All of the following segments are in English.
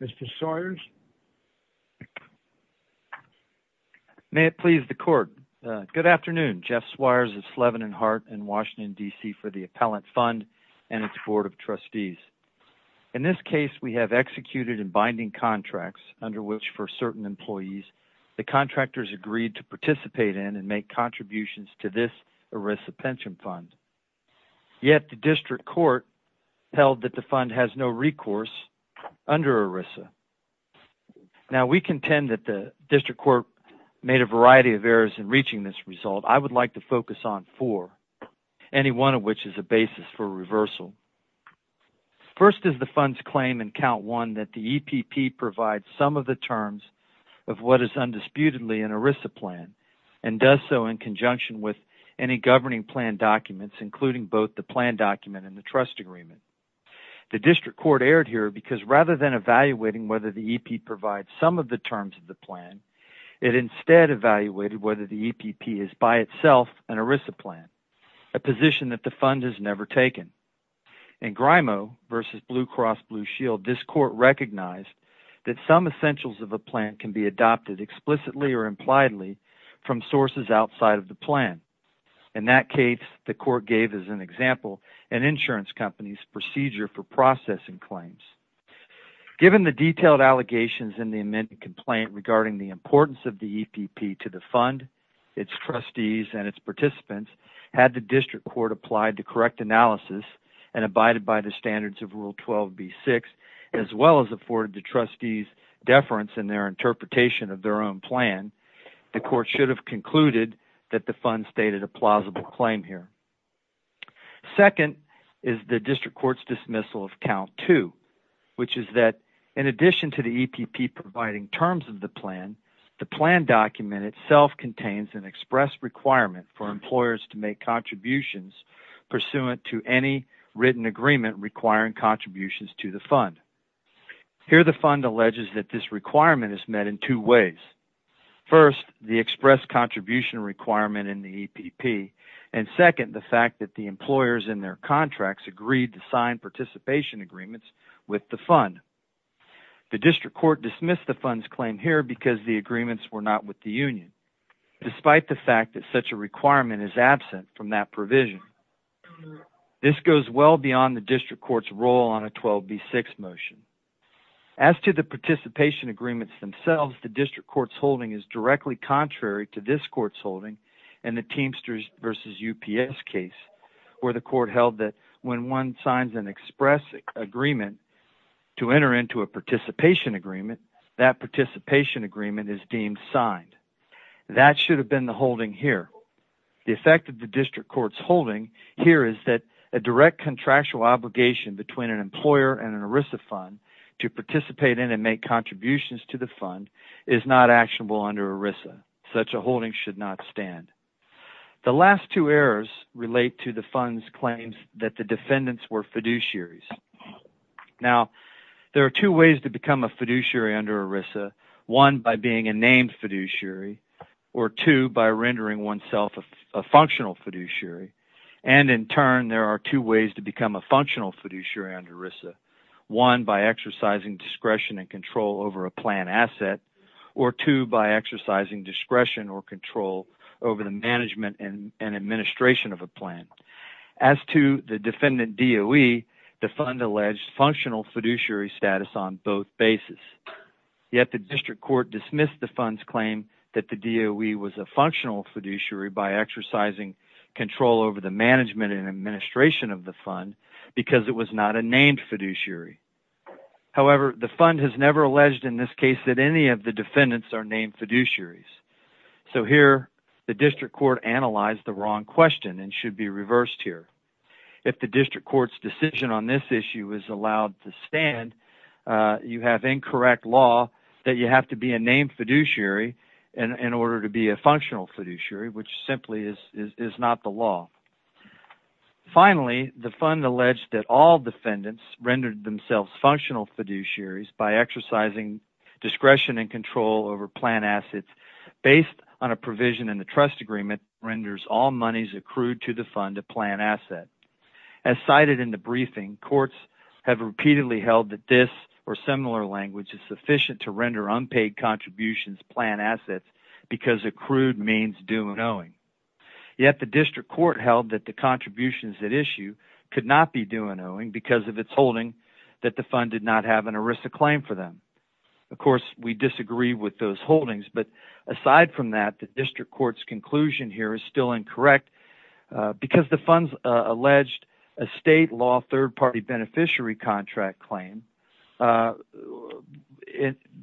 Mr. Sawyers, may it please the court. Good afternoon, Jeff Swyers of Slevin and Hart in Washington, D.C. for the Appellant Fund and its Board of Trustees. In this case, we have executed and binding contracts under which for certain employees, the contractors agreed to participate in and make contributions to this ERISA pension fund. Yet, the District Court held that the fund has no recourse under ERISA. Now, we contend that the District Court made a variety of errors in reaching this result. I would like to focus on four, any one of which is a basis for reversal. First is the fund's claim in Count 1 that the EPP provides some of the terms of what is undisputedly an ERISA plan and does so in conjunction with any governing plan documents, including both the plan document and the trust agreement. The District Court erred here because rather than evaluating whether the EPP provides some of the terms of the plan, it instead evaluated whether the EPP is by itself an ERISA plan, a position that the fund has never taken. In Grimo versus Blue Cross Blue Shield, this court recognized that some essentials of a plan can be adopted explicitly or impliedly from sources outside of the plan. In that case, the court gave as an example an insurance company's procedure for processing claims. Given the detailed allegations in the amended complaint regarding the importance of the EPP to the fund, its trustees, and its participants, had the District Court applied the correct analysis and abided by the standards of Rule 12b-6, as well as afforded the trustees deference in their interpretation of their own plan, the court should have concluded that the fund stated a plausible claim here. Second is the District Court's dismissal of Count 2, which is that in addition to the EPP providing terms of the plan, the plan document itself contains an express requirement for employers to make contributions pursuant to any written agreement requiring contributions to the fund. Here the fund alleges that this requirement is met in two ways. First, the express contribution requirement in the EPP, and second, the fact that the employers in their contracts agreed to sign participation agreements with the fund. The District Court dismissed the fund's claim here because the agreements were not with the union, despite the fact that such a requirement is absent from that provision. This goes well beyond the District Court's role on a 12b-6 motion. As to the participation agreements themselves, the District Court's holding is directly contrary to this court's holding in the Teamsters v. UPS case, where the court held that when one signs an express agreement to enter into a participation agreement, that participation agreement is deemed signed. That should have been the holding here. The effect of the District Court's holding here is that a direct contractual obligation between an employer and an ERISA fund to participate in and make contributions to the fund is not actionable under ERISA. Such a holding should not stand. The last two errors relate to the fund's claim that the defendants were fiduciaries. There are two ways to become a fiduciary under ERISA. One, by being a named fiduciary, or two, by rendering oneself a functional fiduciary. In turn, there are two ways to become a functional fiduciary under ERISA. One, by exercising discretion and control over a plan asset, or two, by exercising discretion or control over the management and administration of a plan. As to the defendant DOE, the fund alleged functional fiduciary status on both bases. Yet, the District Court dismissed the fund's claim that the DOE was a functional fiduciary by exercising control over the management and administration of the fund because it was not a named fiduciary. However, the fund has never alleged in this case that any of the defendants are named fiduciaries. So here, the District Court analyzed the wrong question and should be reversed here. If the District Court's decision on this issue is allowed to stand, you have incorrect law that you have to be a named fiduciary in order to be a functional fiduciary, which simply is not the law. Finally, the fund alleged that all defendants rendered themselves functional fiduciaries by exercising discretion and control over plan assets based on a provision in the trust agreement that renders all monies accrued to the fund a plan asset. As cited in the briefing, courts have repeatedly held that this or similar language is sufficient to render unpaid contributions plan assets because accrued means due and owing. Yet, the District Court held that the contributions at issue could not be due and owing because of its holding that the fund did not have an ERISA claim for them. Of course, we disagree with those holdings, but aside from that, the District Court's conclusion here is still incorrect because the fund alleged a state law third-party beneficiary contract claim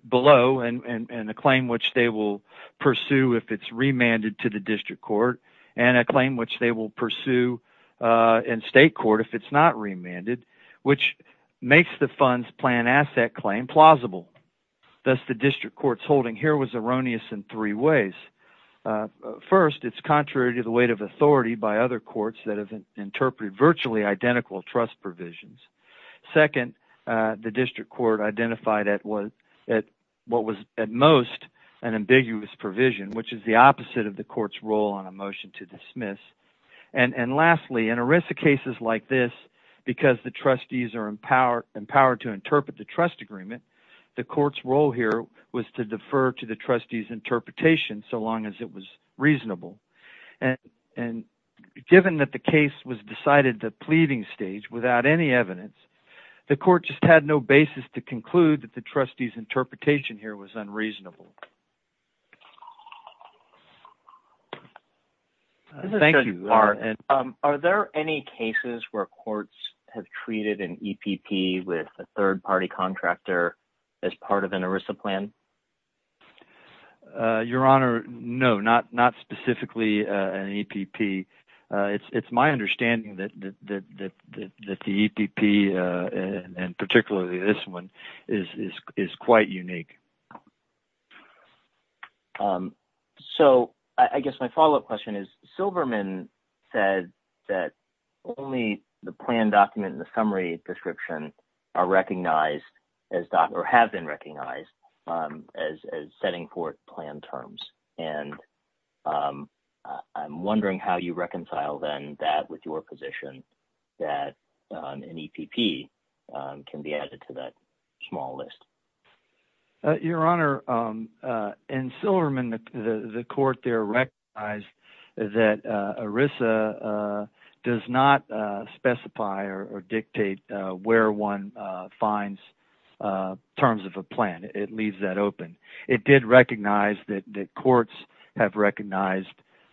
below and a claim which they will pursue if it's remanded to the District Court and a claim which they will pursue in state court if it's not remanded, which makes the fund's plan asset claim plausible. Thus, the District Court's holding here was erroneous in three ways. First, it's contrary to the weight of authority by other courts that have interpreted virtually identical trust provisions. Second, the District Court identified what was at most an ambiguous provision, which is the opposite of the court's role on a motion to dismiss. Lastly, in ERISA cases like this, because the trustees are empowered to interpret the trust agreement, the court's role here was to defer to the trustees' interpretation so long as it was reasonable. Given that the case was decided at the pleading stage without any evidence, the court just had no basis to conclude that the trustees' interpretation here was unreasonable. Are there any cases where courts have treated an EPP with a third-party contractor as part of an ERISA plan? Your Honor, no, not specifically an EPP. It's my understanding that the EPP and particularly this one is quite unique. I guess my follow-up question is, Silverman said that only the plan document and the summary description have been recognized as setting forth plan terms. I'm wondering how you reconcile that with your position that an EPP can be added to that small list. Your Honor, in Silverman, the court there recognized that ERISA does not specify or dictate where one finds terms of a plan. It leaves that open. It did recognize that courts have recognized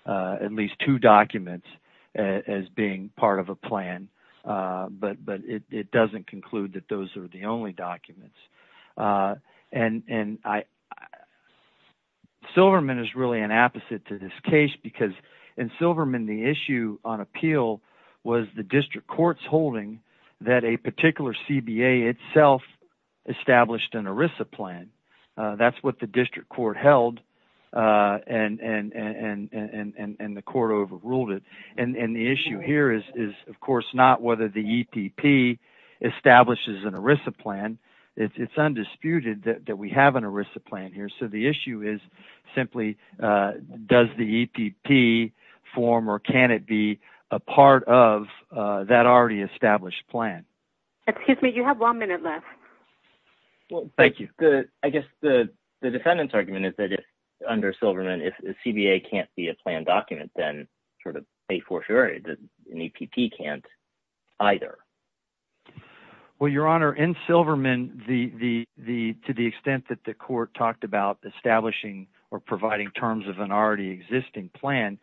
at least two documents as being part of a plan, but it doesn't conclude that those are the only documents. Silverman is really an opposite to this case because in Silverman, the issue on appeal was the district court's holding that a particular CBA itself established an ERISA plan. That's what the district court held, and the court overruled it. The issue here is, of course, not whether the EPP establishes an ERISA plan. It's undisputed that we have an ERISA plan here. The issue is simply, does the EPP form or can it be a part of that already established plan? Excuse me, you have one minute left. Thank you. I guess the defendant's argument is that under Silverman, if a CBA can't be a plan document, then sort of a fortiori, an EPP can't either. Your Honor, in Silverman, to the extent that the court talked about establishing or providing terms of an already existing plan,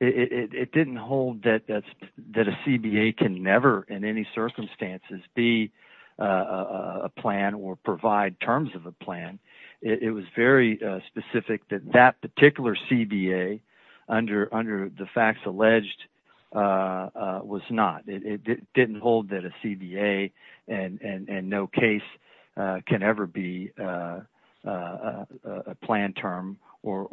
it didn't hold that a CBA can never in any circumstances be a plan or provide terms of a plan. It was very specific that that particular CBA, under the facts alleged, was not. It didn't hold that a CBA and no case can ever be a plan term or,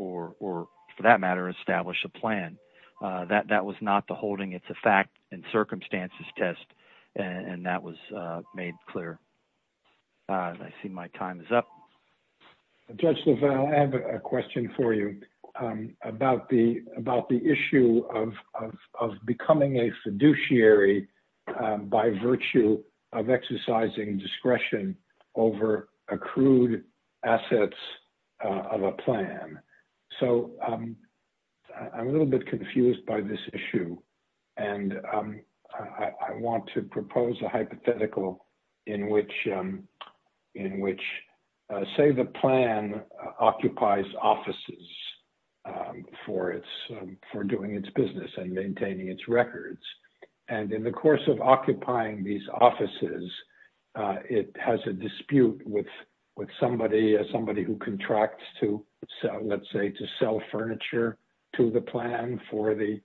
for that matter, establish a plan. That was not the holding. It's a fact and circumstances test, and that was made clear. I see my time is up. Judge LaValle, I have a question for you about the issue of becoming a fiduciary by virtue of exercising discretion over accrued assets of a plan. I'm a little bit confused by this issue, and I want to propose a hypothetical in which, say, the plan occupies offices for doing its business and maintaining its records. In the course of occupying these offices, it has a dispute with somebody who contracts to sell furniture to the plan for the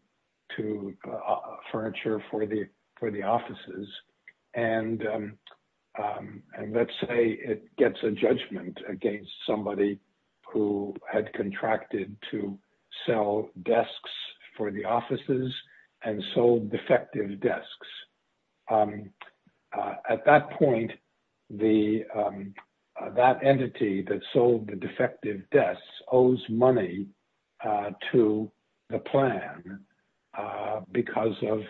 offices. Let's say it gets a judgment against somebody who had contracted to sell desks for the offices and sold defective desks. At that point, that entity that sold the defective desks owes money to the plan because of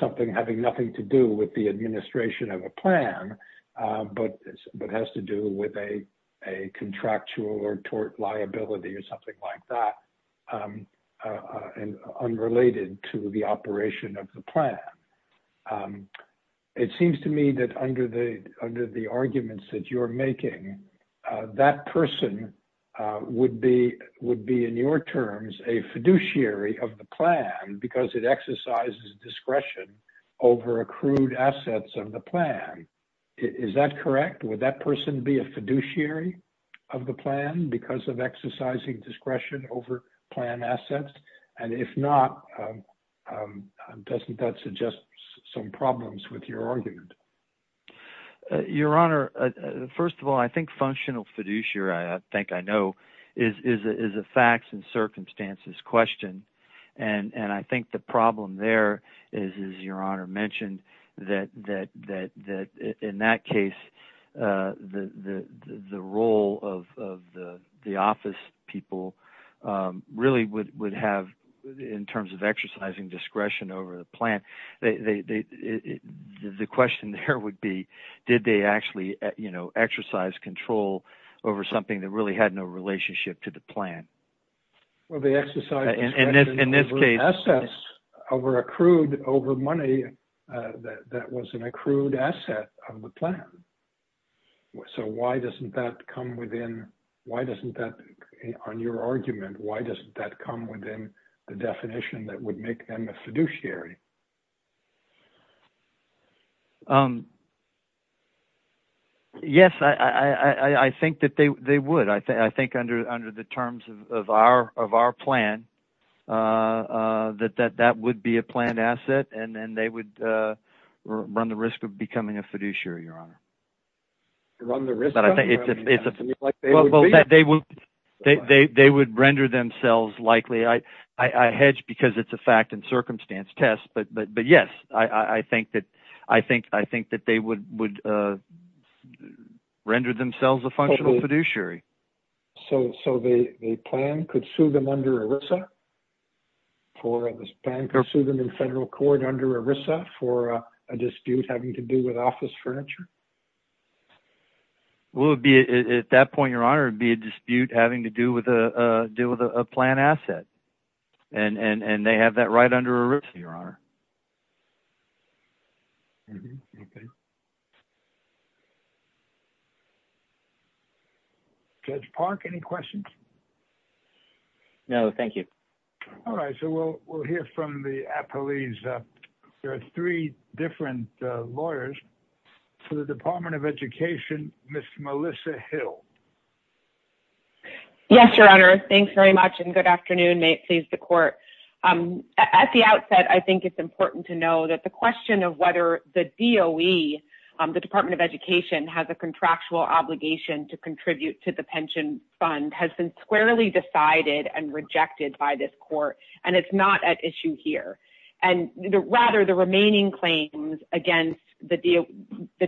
something having nothing to do with the administration of a plan but has to do with a contractual or tort liability or something like that and unrelated to the operation of the plan. It seems to me that under the arguments that you're making, that person would be, in your terms, a fiduciary of the plan because it exercises discretion over accrued assets of the plan. Is that correct? Would that person be a fiduciary of the plan because of exercising discretion over plan assets? If not, doesn't that suggest some problems with your argument? Your Honor, first of all, I think functional fiduciary, I think I know, is a facts and circumstances question. I think the problem there is, as Your Honor mentioned, that in that case, the role of the office people really would have, in terms of exercising discretion over the plan, the question there would be, did they actually exercise control over something that really had no relationship to the plan? Well, they exercised discretion over assets that were accrued over money that was an accrued asset of the plan. So why doesn't that come within, why doesn't that, on your argument, why doesn't that come within the definition that would make them a fiduciary? Yes, I think that they would. I think under the terms of our plan, that that would be a planned asset and then they would run the risk of becoming a fiduciary, Your Honor. Run the risk of? They would render themselves likely, I hedge because it's a facts and circumstances test, but yes, I think that they would render themselves a functional fiduciary. So the plan could sue them under ERISA? The plan could sue them in federal court under ERISA for a dispute having to do with office furniture? At that point, Your Honor, it would be a dispute having to do with a plan asset. And they have that right under ERISA, Your Honor. Judge Park, any questions? No, thank you. All right, so we'll hear from the appellees. There are three different lawyers for the Department of Education. Ms. Melissa Hill. Yes, Your Honor. Thanks very much and good afternoon. May it please the court. At the outset, I think it's important to know that the question of whether the DOE, the Department of Education, has a contractual obligation to contribute to the pension fund has been squarely decided and rejected by this court. And it's not at issue here. And rather, the remaining claims against the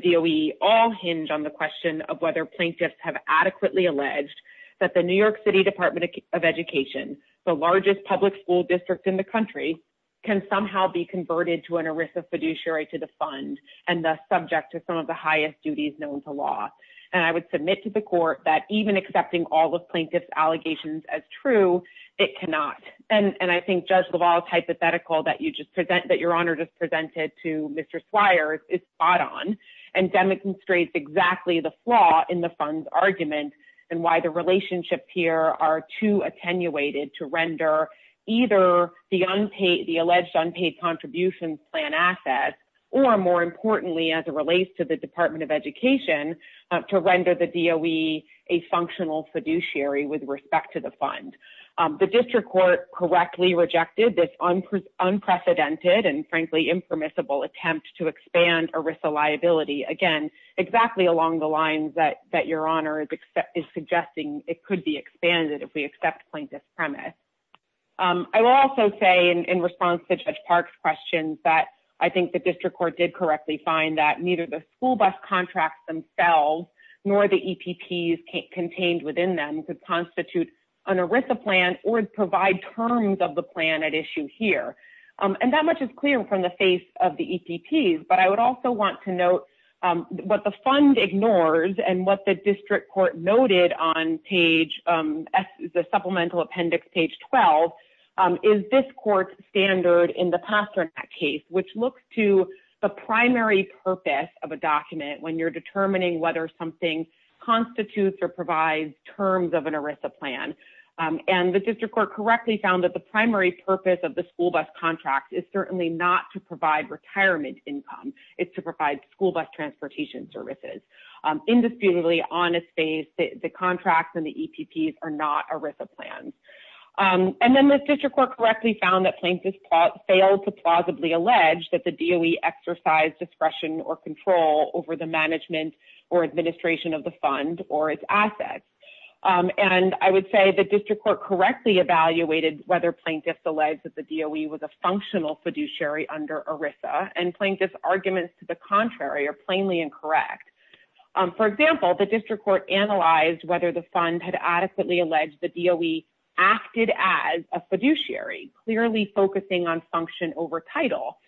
DOE all hinge on the question of whether plaintiffs have adequately alleged that the New York City Department of Education, the largest public school district in the country, can somehow be converted to an ERISA fiduciary to the fund and thus subject to some of the highest duties known to law. And I would submit to the court that even accepting all the plaintiff's allegations as true, it cannot. And I think Judge LaValle's hypothetical that Your Honor just presented to Mr. Swires is spot on and demonstrates exactly the flaw in the fund's argument and why the relationships here are too attenuated to render either the alleged unpaid contributions plan assets, or more importantly, as it relates to the Department of Education, to render the DOE a functional fiduciary with respect to the fund. The district court correctly rejected this unprecedented and frankly impermissible attempt to expand ERISA liability, again, exactly along the lines that Your Honor is suggesting it could be expanded if we accept plaintiff's premise. I will also say in response to Judge Park's questions that I think the district court did correctly find that neither the school bus contracts themselves nor the EPPs contained within them could constitute an ERISA plan or provide terms of the plan at issue here. And that much is clear from the face of the EPPs, but I would also want to note what the fund ignores and what the district court noted on page, the supplemental appendix, page 12, is this court's standard in the Pasternak case, which looks to the primary purpose of a document when you're determining whether something constitutes or provides terms of an ERISA plan. And the district court correctly found that the primary purpose of the school bus contract is certainly not to provide retirement income. It's to provide school bus transportation services. Indisputably, on its face, the contracts and the EPPs are not ERISA plans. And then the district court correctly found that plaintiffs failed to plausibly allege that the DOE exercised discretion or control over the management or administration of the fund or its assets. And I would say the district court correctly evaluated whether plaintiffs alleged that the DOE was a functional fiduciary under ERISA, and plaintiffs' arguments to the contrary are plainly incorrect. For example, the district court analyzed whether the fund had adequately alleged the DOE acted as a fiduciary, clearly focusing on function over title.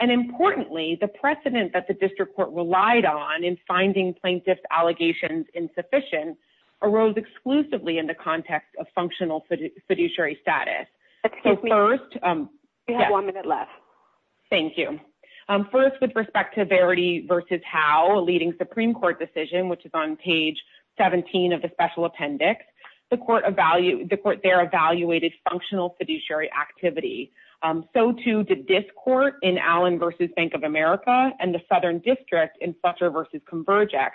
And importantly, the precedent that the district court relied on in finding plaintiffs' allegations insufficient arose exclusively in the context of functional fiduciary status. We have one minute left. Thank you. First, with respect to Verity v. Howe, a leading Supreme Court decision, which is on page 17 of the special appendix, the court there evaluated functional fiduciary activity. So too did this court in Allen v. Bank of America and the Southern District in Fletcher v. Convergex,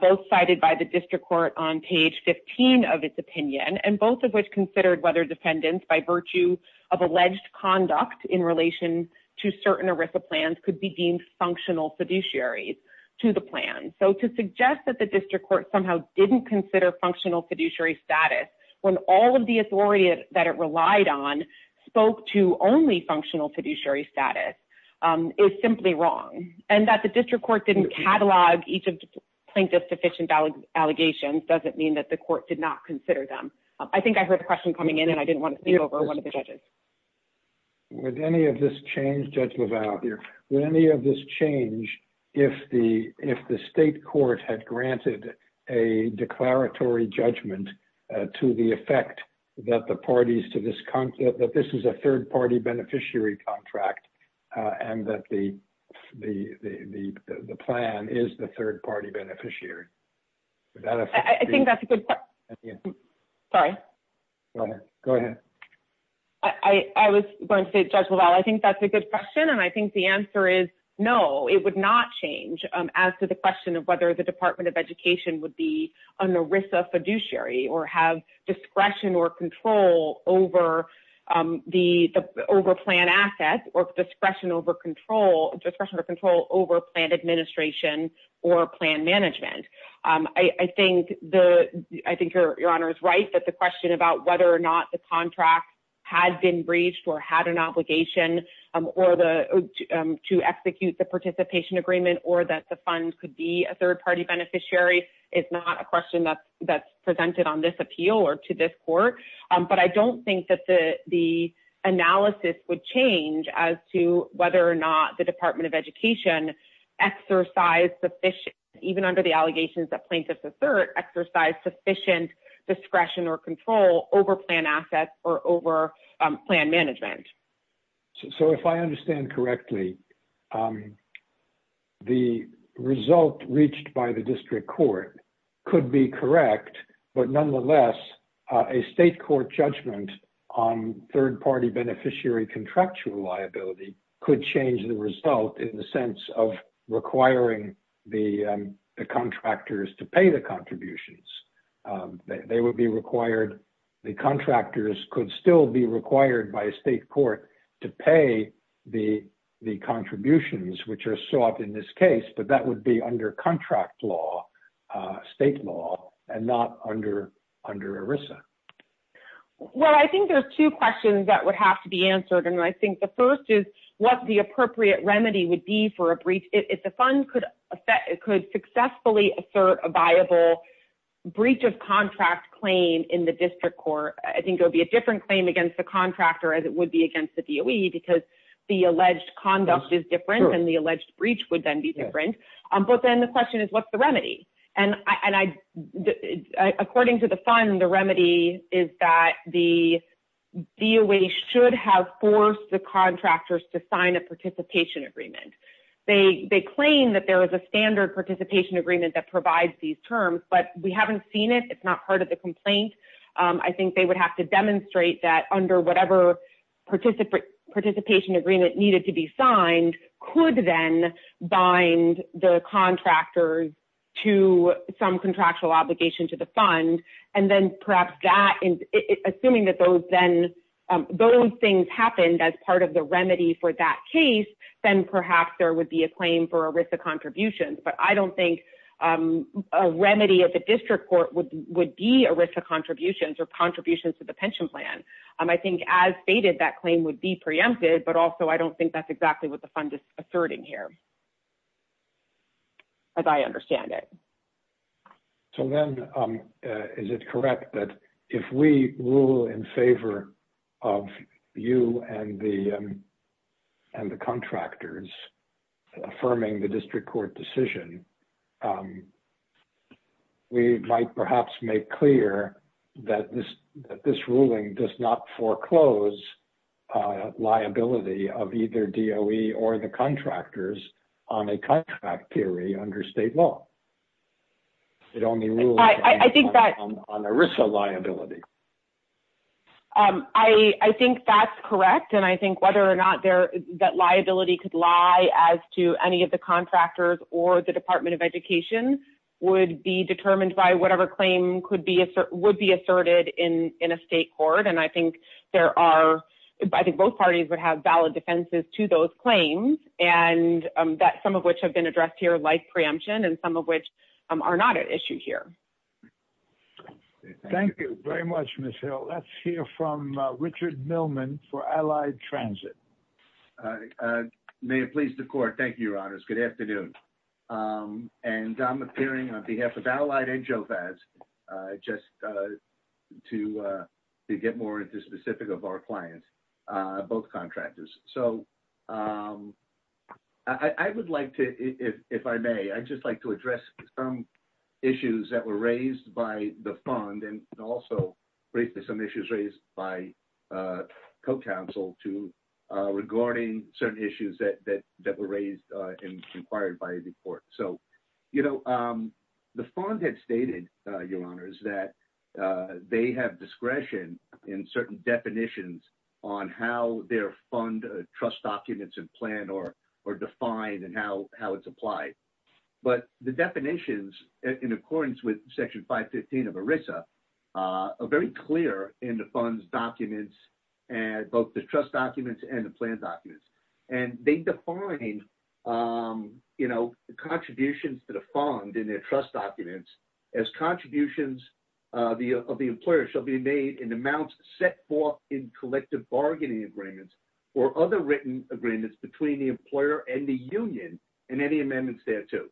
both cited by the district court on page 15 of its opinion, and both of which considered whether defendants, by virtue of alleged conduct in relation to certain ERISA plans, could be deemed functional fiduciaries to the plan. So to suggest that the district court somehow didn't consider functional fiduciary status when all of the authority that it relied on spoke to only functional fiduciary status is simply wrong. And that the district court didn't catalog each of the plaintiffs' sufficient allegations doesn't mean that the court did not consider them. I think I heard a question coming in, and I didn't want to sneak over one of the judges. Would any of this change, Judge LaValle, if the state court had granted a declaratory judgment to the effect that this is a third-party beneficiary contract and that the plan is the third-party beneficiary? I think that's a good point. Sorry. Go ahead. I was going to say, Judge LaValle, I think that's a good question, and I think the answer is no. It would not change as to the question of whether the Department of Education would be an ERISA fiduciary or have discretion or control over plan assets or discretion or control over plan administration or plan management. I think your Honor is right that the question about whether or not the contract had been breached or had an obligation to execute the participation agreement or that the fund could be a third-party beneficiary is not a question that's presented on this appeal or to this court. But I don't think that the analysis would change as to whether or not the Department of Education exercised, even under the allegations that plaintiffs assert, exercised sufficient discretion or control over plan assets or over plan management. So if I understand correctly, the result reached by the district court could be correct, but nonetheless, a state court judgment on third-party beneficiary contractual liability could change the result in the sense of requiring the contractors to pay the contributions. They would be required, the contractors could still be required by a state court to pay the contributions which are sought in this case, but that would be under contract law, state law, and not under ERISA. Well, I think there's two questions that would have to be answered, and I think the first is what the appropriate remedy would be for a breach. If the fund could successfully assert a viable breach of contract claim in the district court, I think there would be a different claim against the contractor as it would be against the DOE because the alleged conduct is different and the alleged breach would then be different. But then the question is, what's the remedy? And according to the fund, the remedy is that the DOE should have forced the contractors to sign a participation agreement. They claim that there is a standard participation agreement that provides these terms, but we haven't seen it. I think they would have to demonstrate that under whatever participation agreement needed to be signed could then bind the contractors to some contractual obligation to the fund. And then perhaps that, assuming that those things happened as part of the remedy for that case, then perhaps there would be a claim for ERISA contributions. But I don't think a remedy at the district court would be ERISA contributions or contributions to the pension plan. I think as stated, that claim would be preempted, but also I don't think that's exactly what the fund is asserting here, as I understand it. So then, is it correct that if we rule in favor of you and the contractors affirming the district court decision, we might perhaps make clear that this ruling does not foreclose liability of either DOE or the contractors on a contract theory under state law? It only rules on ERISA liability. I think that's correct. And I think whether or not that liability could lie as to any of the contractors or the Department of Education would be determined by whatever claim would be asserted in a state court. And I think both parties would have valid defenses to those claims, some of which have been addressed here like preemption and some of which are not at issue here. Thank you very much, Ms. Hill. Let's hear from Richard Millman for Allied Transit. May it please the court. Thank you, Your Honors. Good afternoon. And I'm appearing on behalf of Allied and Jovaz just to get more specific of our clients, both contractors. So I would like to, if I may, I'd just like to address some issues that were raised by the fund and also briefly some issues raised by co-counsel regarding certain issues that were raised and inquired by the court. The fund had stated, Your Honors, that they have discretion in certain definitions on how their fund trust documents and plan are defined and how it's applied. But the definitions, in accordance with Section 515 of ERISA, are very clear in the fund's documents, both the trust documents and the plan documents. And they define, you know, contributions to the fund in their trust documents as contributions of the employer shall be made in amounts set forth in collective bargaining agreements or other written agreements between the employer and the union and any amendments there to.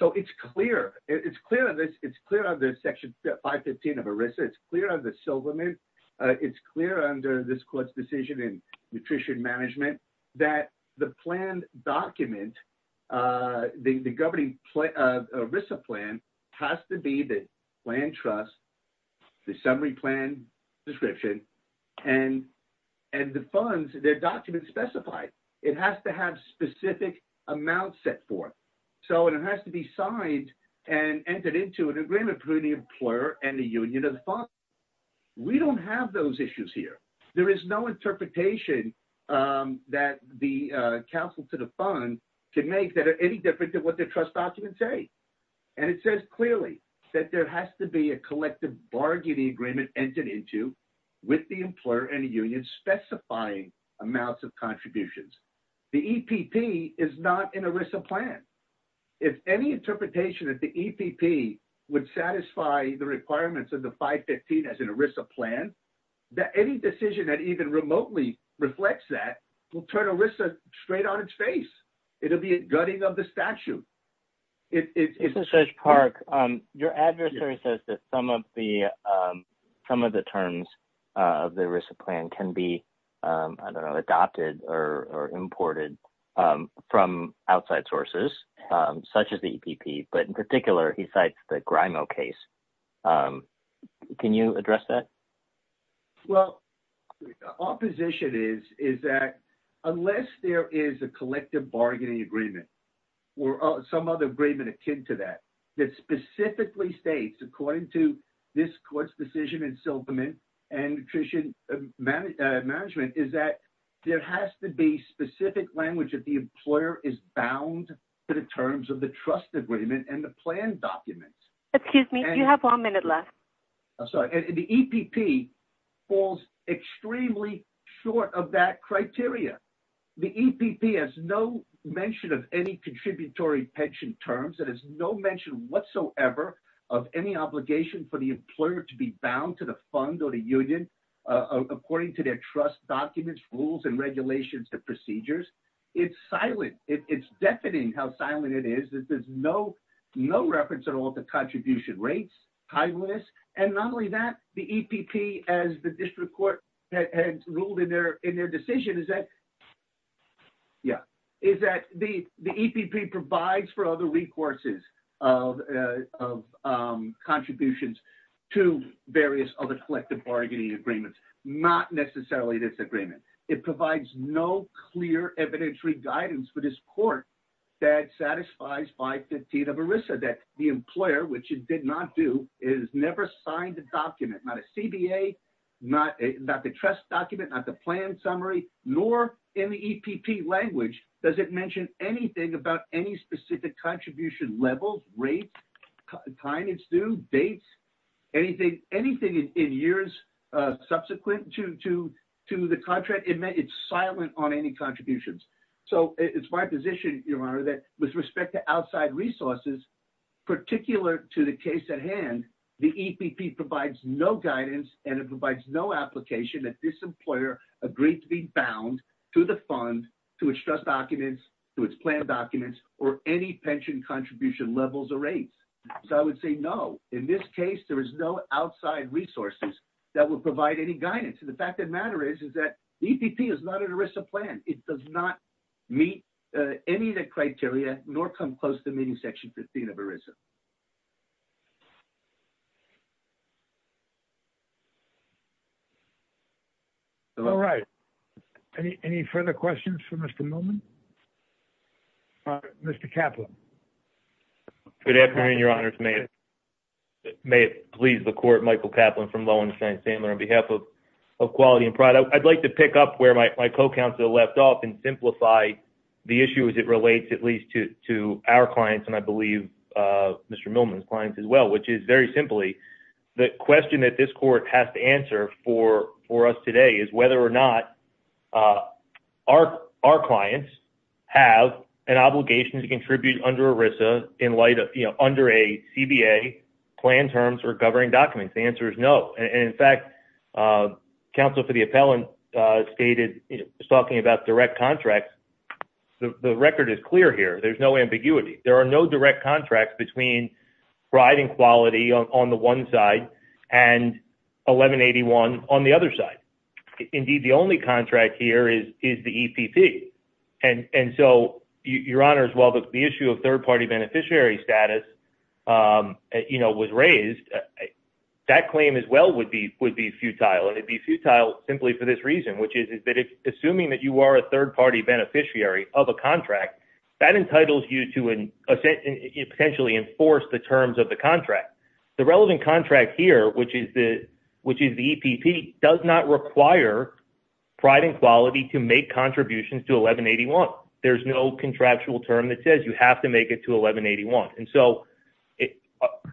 So it's clear. It's clear on this. It's clear on the Section 515 of ERISA. It's clear on the silver limit. It's clear under this court's decision in nutrition management that the plan document, the governing ERISA plan, has to be the plan trust, the summary plan description, and the funds, their documents specified. It has to have specific amounts set forth. So it has to be signed and entered into an agreement between the employer and the union of the fund. We don't have those issues here. There is no interpretation that the counsel to the fund can make that are any different than what their trust documents say. And it says clearly that there has to be a collective bargaining agreement entered into with the employer and the union specifying amounts of contributions. The EPP is not an ERISA plan. If any interpretation of the EPP would satisfy the requirements of the 515 as an ERISA plan, any decision that even remotely reflects that will turn ERISA straight on its face. It will be a gutting of the statute. Judge Park, your adversary says that some of the terms of the ERISA plan can be, I don't know, adopted or imported from outside sources, such as the EPP. But in particular, he cites the Grimo case. Can you address that? Well, our position is that unless there is a collective bargaining agreement or some other agreement akin to that, that specifically states, according to this court's decision in Silverman and nutrition management, is that there has to be specific language that the employer is bound to the terms of the trust agreement and the plan documents. Excuse me, you have one minute left. I'm sorry. The EPP falls extremely short of that criteria. The EPP has no mention of any contributory pension terms. It has no mention whatsoever of any obligation for the employer to be bound to the fund or the union according to their trust documents, rules, and regulations and procedures. It's silent. It's deafening how silent it is. There's no reference at all to contribution rates, high risk. And not only that, the EPP, as the district court has ruled in their decision, is that the EPP provides for other recourses of contributions to various other collective bargaining agreements, not necessarily this agreement. It provides no clear evidentiary guidance for this court that satisfies 515 of ERISA, that the employer, which it did not do, has never signed a document, not a CBA, not the trust document, not the plan summary, nor in the EPP language, does it mention anything about any specific contribution level, rate, time it's due, dates, anything in years subsequent to the contract. It's silent on any contributions. So it's my position, Your Honor, that with respect to outside resources, particular to the case at hand, the EPP provides no guidance and it provides no application that this employer agreed to be bound to the fund, to its trust documents, to its plan documents, or any pension contribution levels or rates. So I would say no. In this case, there is no outside resources that would provide any guidance. And the fact of the matter is, is that the EPP is not an ERISA plan. It does not meet any of the criteria, nor come close to meeting Section 15 of ERISA. All right. Any further questions for Mr. Millman? Mr. Kaplan. Good afternoon, Your Honor. May it please the Court, Michael Kaplan from Loewenstein & Sandler, on behalf of Quality and Product. I'd like to pick up where my co-counsel left off and simplify the issue as it relates at least to our clients and I believe Mr. Millman's clients as well, which is, very simply, the question that this court has to answer for us today is whether or not our clients have an obligation to contribute under ERISA in light of, you know, under a CBA plan terms or governing documents. The answer is no. And in fact, counsel for the appellant stated, you know, was talking about direct contracts. The record is clear here. There's no ambiguity. There are no direct contracts between riding quality on the one side and 1181 on the other side. Indeed, the only contract here is the EPP. And so, Your Honor, as well, the issue of third-party beneficiary status, you know, was raised. That claim as well would be futile, and it would be futile simply for this reason, which is that assuming that you are a third-party beneficiary of a contract, that entitles you to potentially enforce the terms of the contract. The relevant contract here, which is the EPP, does not require pride and quality to make contributions to 1181. There's no contractual term that says you have to make it to 1181. And so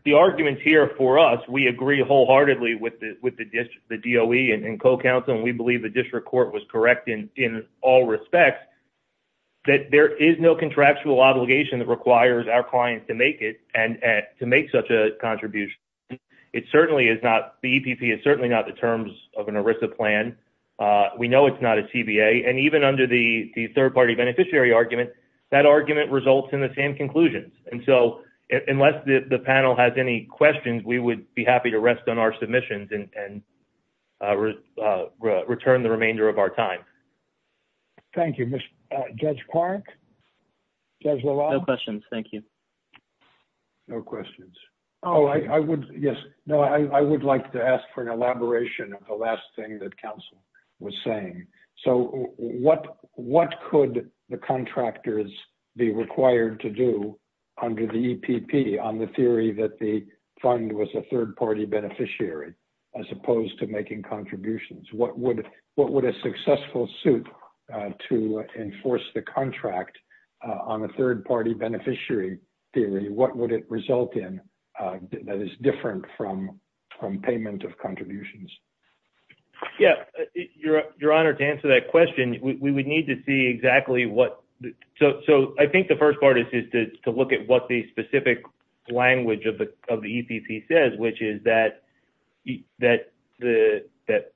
the arguments here for us, we agree wholeheartedly with the DOE and co-counsel, and we believe the district court was correct in all respects, that there is no contractual obligation that requires our clients to make it and to make such a contribution. It certainly is not the EPP. It's certainly not the terms of an ERISA plan. We know it's not a CBA. And even under the third-party beneficiary argument, that argument results in the same conclusions. And so unless the panel has any questions, we would be happy to rest on our submissions and return the remainder of our time. Thank you. Judge Clark? Judge LaValle? No questions. Thank you. No questions. Oh, I would, yes. No, I would like to ask for an elaboration of the last thing that counsel was saying. So what could the contractors be required to do under the EPP on the theory that the fund was a third-party beneficiary as opposed to making contributions? What would a successful suit to enforce the contract on a third-party beneficiary theory, what would it result in that is different from payment of contributions? Yeah. Your Honor, to answer that question, we would need to see exactly what. So I think the first part is to look at what the specific language of the EPP says, which is that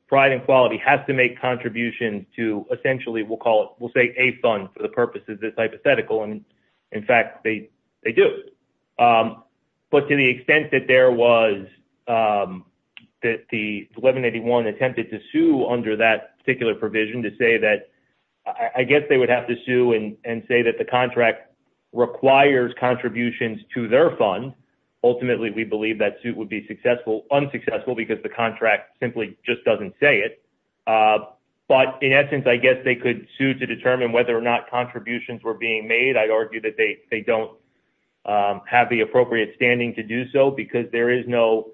pride and quality has to make contributions to essentially, we'll call it, we'll say a fund for the purposes of this hypothetical. And, in fact, they do. But to the extent that there was, that the 1181 attempted to sue under that particular provision to say that, I guess they would have to sue and say that the contract requires contributions to their fund. Ultimately, we believe that suit would be unsuccessful because the contract simply just doesn't say it. But, in essence, I guess they could sue to determine whether or not contributions were being made. I'd argue that they don't have the appropriate standing to do so because there is no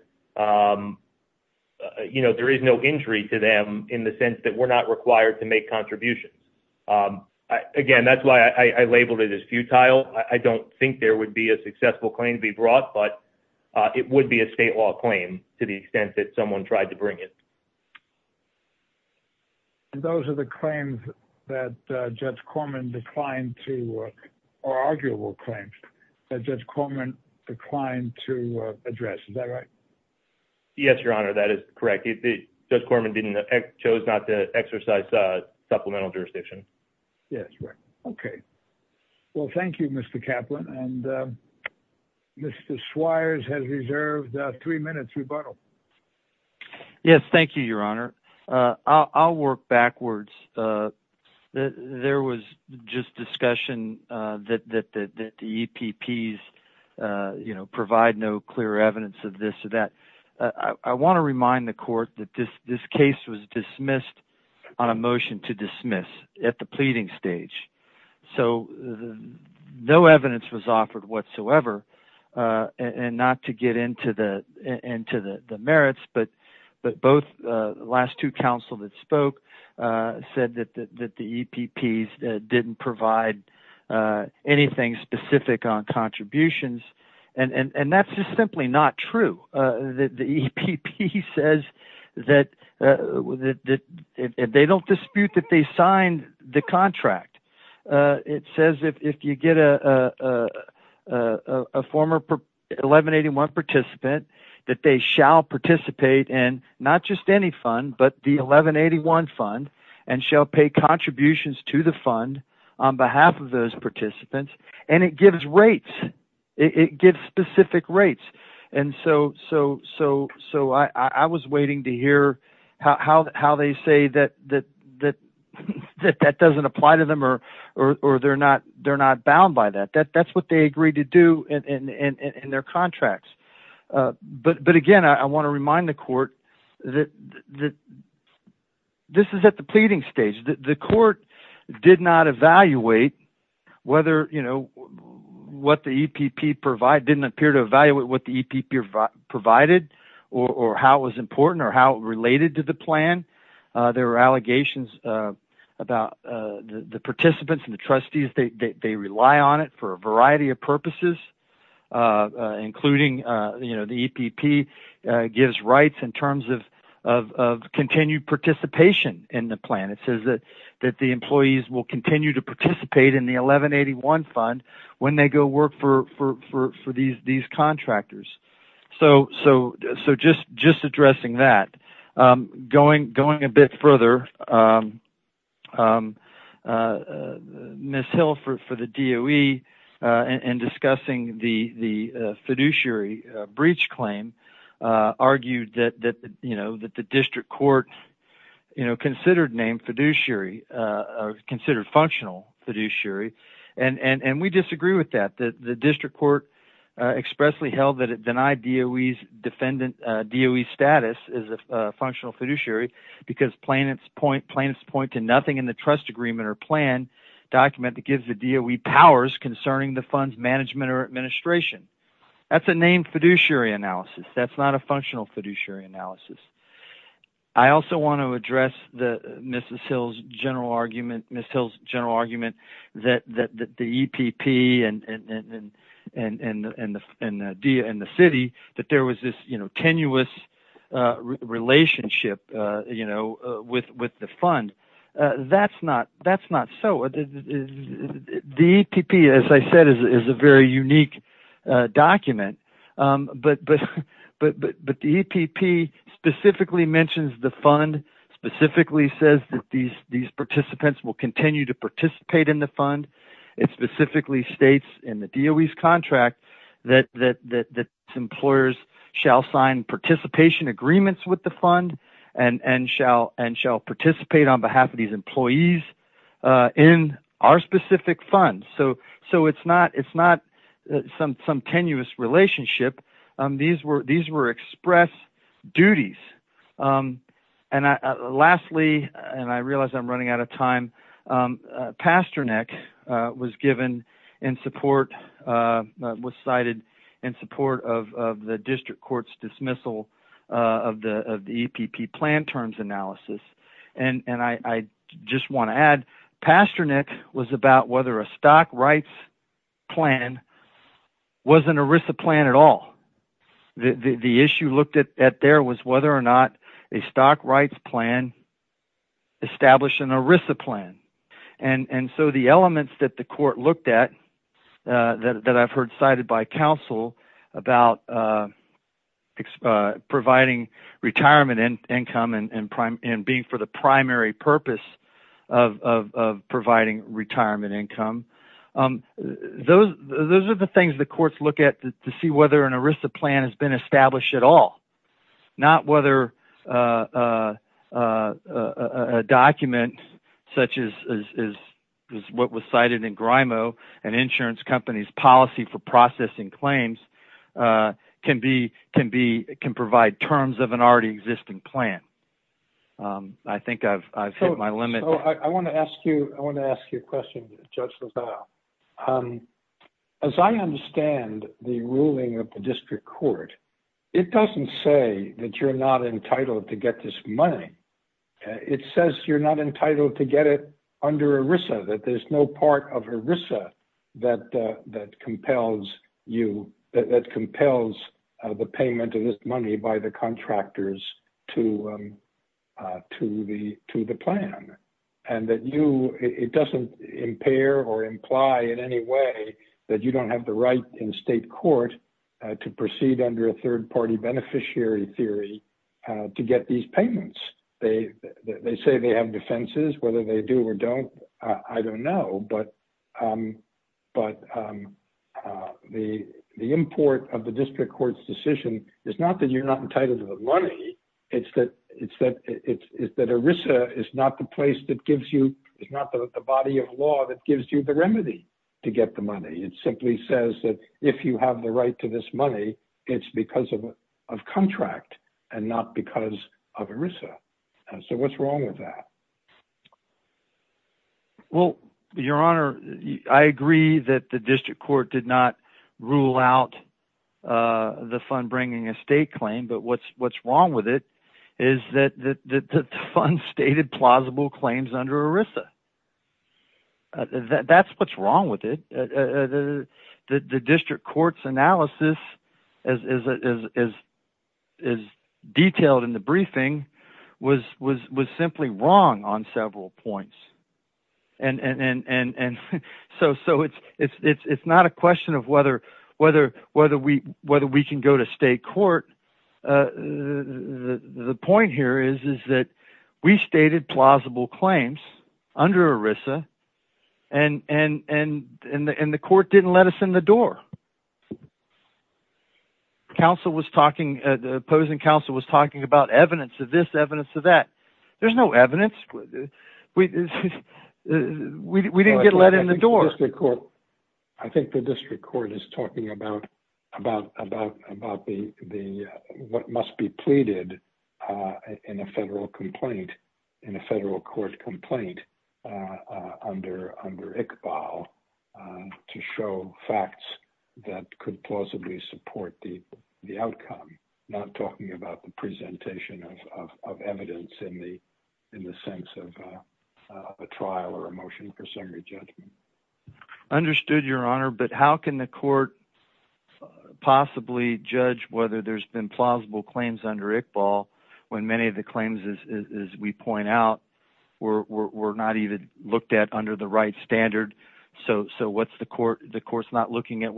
injury to them in the sense that we're not required to make contributions. Again, that's why I labeled it as futile. I don't think there would be a successful claim to be brought, but it would be a state law claim to the extent that someone tried to bring it. And those are the claims that Judge Corman declined to, or arguable claims, that Judge Corman declined to address. Is that right? Yes, Your Honor, that is correct. Judge Corman chose not to exercise supplemental jurisdiction. Yes, right. Okay. Well, thank you, Mr. Kaplan. And Mr. Swires has reserved three minutes rebuttal. Yes, thank you, Your Honor. I'll work backwards. There was just discussion that the EPPs provide no clear evidence of this or that. I want to remind the court that this case was dismissed on a motion to dismiss at the pleading stage. So no evidence was offered whatsoever. And not to get into the merits, but the last two counsel that spoke said that the EPPs didn't provide anything specific on contributions. And that's just simply not true. The EPP says that they don't dispute that they signed the contract. It says if you get a former 1181 participant, that they shall participate in not just any fund, but the 1181 fund, and shall pay contributions to the fund on behalf of those participants. And it gives rates. It gives specific rates. And so I was waiting to hear how they say that that doesn't apply to them or they're not bound by that. That's what they agreed to do in their contracts. But, again, I want to remind the court that this is at the pleading stage. The court did not evaluate what the EPP provided or how it was important or how it related to the plan. There were allegations about the participants and the trustees. They rely on it for a variety of purposes, including the EPP gives rights in terms of continued participation in the plan. It says that the employees will continue to participate in the 1181 fund when they go work for these contractors. So just addressing that. Going a bit further, Ms. Hill for the DOE, in discussing the fiduciary breach claim, argued that the district court considered named fiduciary, considered functional fiduciary. And we disagree with that. The district court expressly held that it denied DOE's status as a functional fiduciary because plaintiffs point to nothing in the trust agreement or plan document that gives the DOE powers concerning the fund's management or administration. That's a named fiduciary analysis. That's not a functional fiduciary analysis. I also want to address Ms. Hill's general argument that the EPP and the city that there was this tenuous relationship with the fund. That's not so. The EPP, as I said, is a very unique document. But the EPP specifically mentions the fund, specifically says that these participants will continue to participate in the fund. It specifically states in the DOE's contract that employers shall sign participation agreements with the fund and shall participate on behalf of these employees in our specific funds. So it's not some tenuous relationship. These were express duties. And lastly, and I realize I'm running out of time, Pasternak was cited in support of the district court's dismissal of the EPP plan terms analysis. I just want to add, Pasternak was about whether a stock rights plan was an ERISA plan at all. The issue looked at there was whether or not a stock rights plan established an ERISA plan. And so the elements that the court looked at that I've heard cited by counsel about providing retirement income and being for the primary purpose of providing retirement income, those are the things the courts look at to see whether an ERISA plan has been established at all. Not whether a document such as what was cited in Grimo and insurance companies' policy for processing claims can provide terms of an already existing plan. I think I've hit my limit. I want to ask you a question, Judge LaValle. As I understand the ruling of the district court, it doesn't say that you're not entitled to get this money. It says you're not entitled to get it under ERISA, that there's no part of ERISA that compels you, that compels the payment of this money by the contractors to the plan. It doesn't impair or imply in any way that you don't have the right in state court to proceed under a third-party beneficiary theory to get these payments. They say they have defenses. Whether they do or don't, I don't know. But the import of the district court's decision is not that you're not entitled to the money. It's that ERISA is not the body of law that gives you the remedy to get the money. It simply says that if you have the right to this money, it's because of contract and not because of ERISA. So what's wrong with that? Well, Your Honor, I agree that the district court did not rule out the fund bringing a state claim. But what's wrong with it is that the fund stated plausible claims under ERISA. That's what's wrong with it. The district court's analysis, as detailed in the briefing, was simply wrong on several points. So it's not a question of whether we can go to state court. The point here is that we stated plausible claims under ERISA, and the court didn't let us in the door. The opposing counsel was talking about evidence of this, evidence of that. There's no evidence. We didn't get let in the door. I think the district court is talking about what must be pleaded in a federal court complaint under Iqbal to show facts that could plausibly support the outcome, not talking about the presentation of evidence in the sense of a trial or a motion for summary judgment. Understood, Your Honor. But how can the court possibly judge whether there's been plausible claims under Iqbal when many of the claims, as we point out, were not even looked at under the right standard? So what the court's looking at,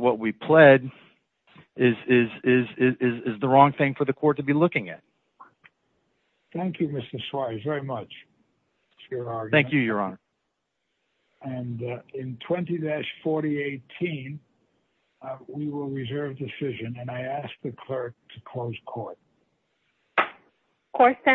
what we pled, is the wrong thing for the court to be looking at. Thank you, Mr. Suarez, very much. Thank you, Your Honor. And in 20-4018, we will reserve decision, and I ask the clerk to close court. Court is adjourned.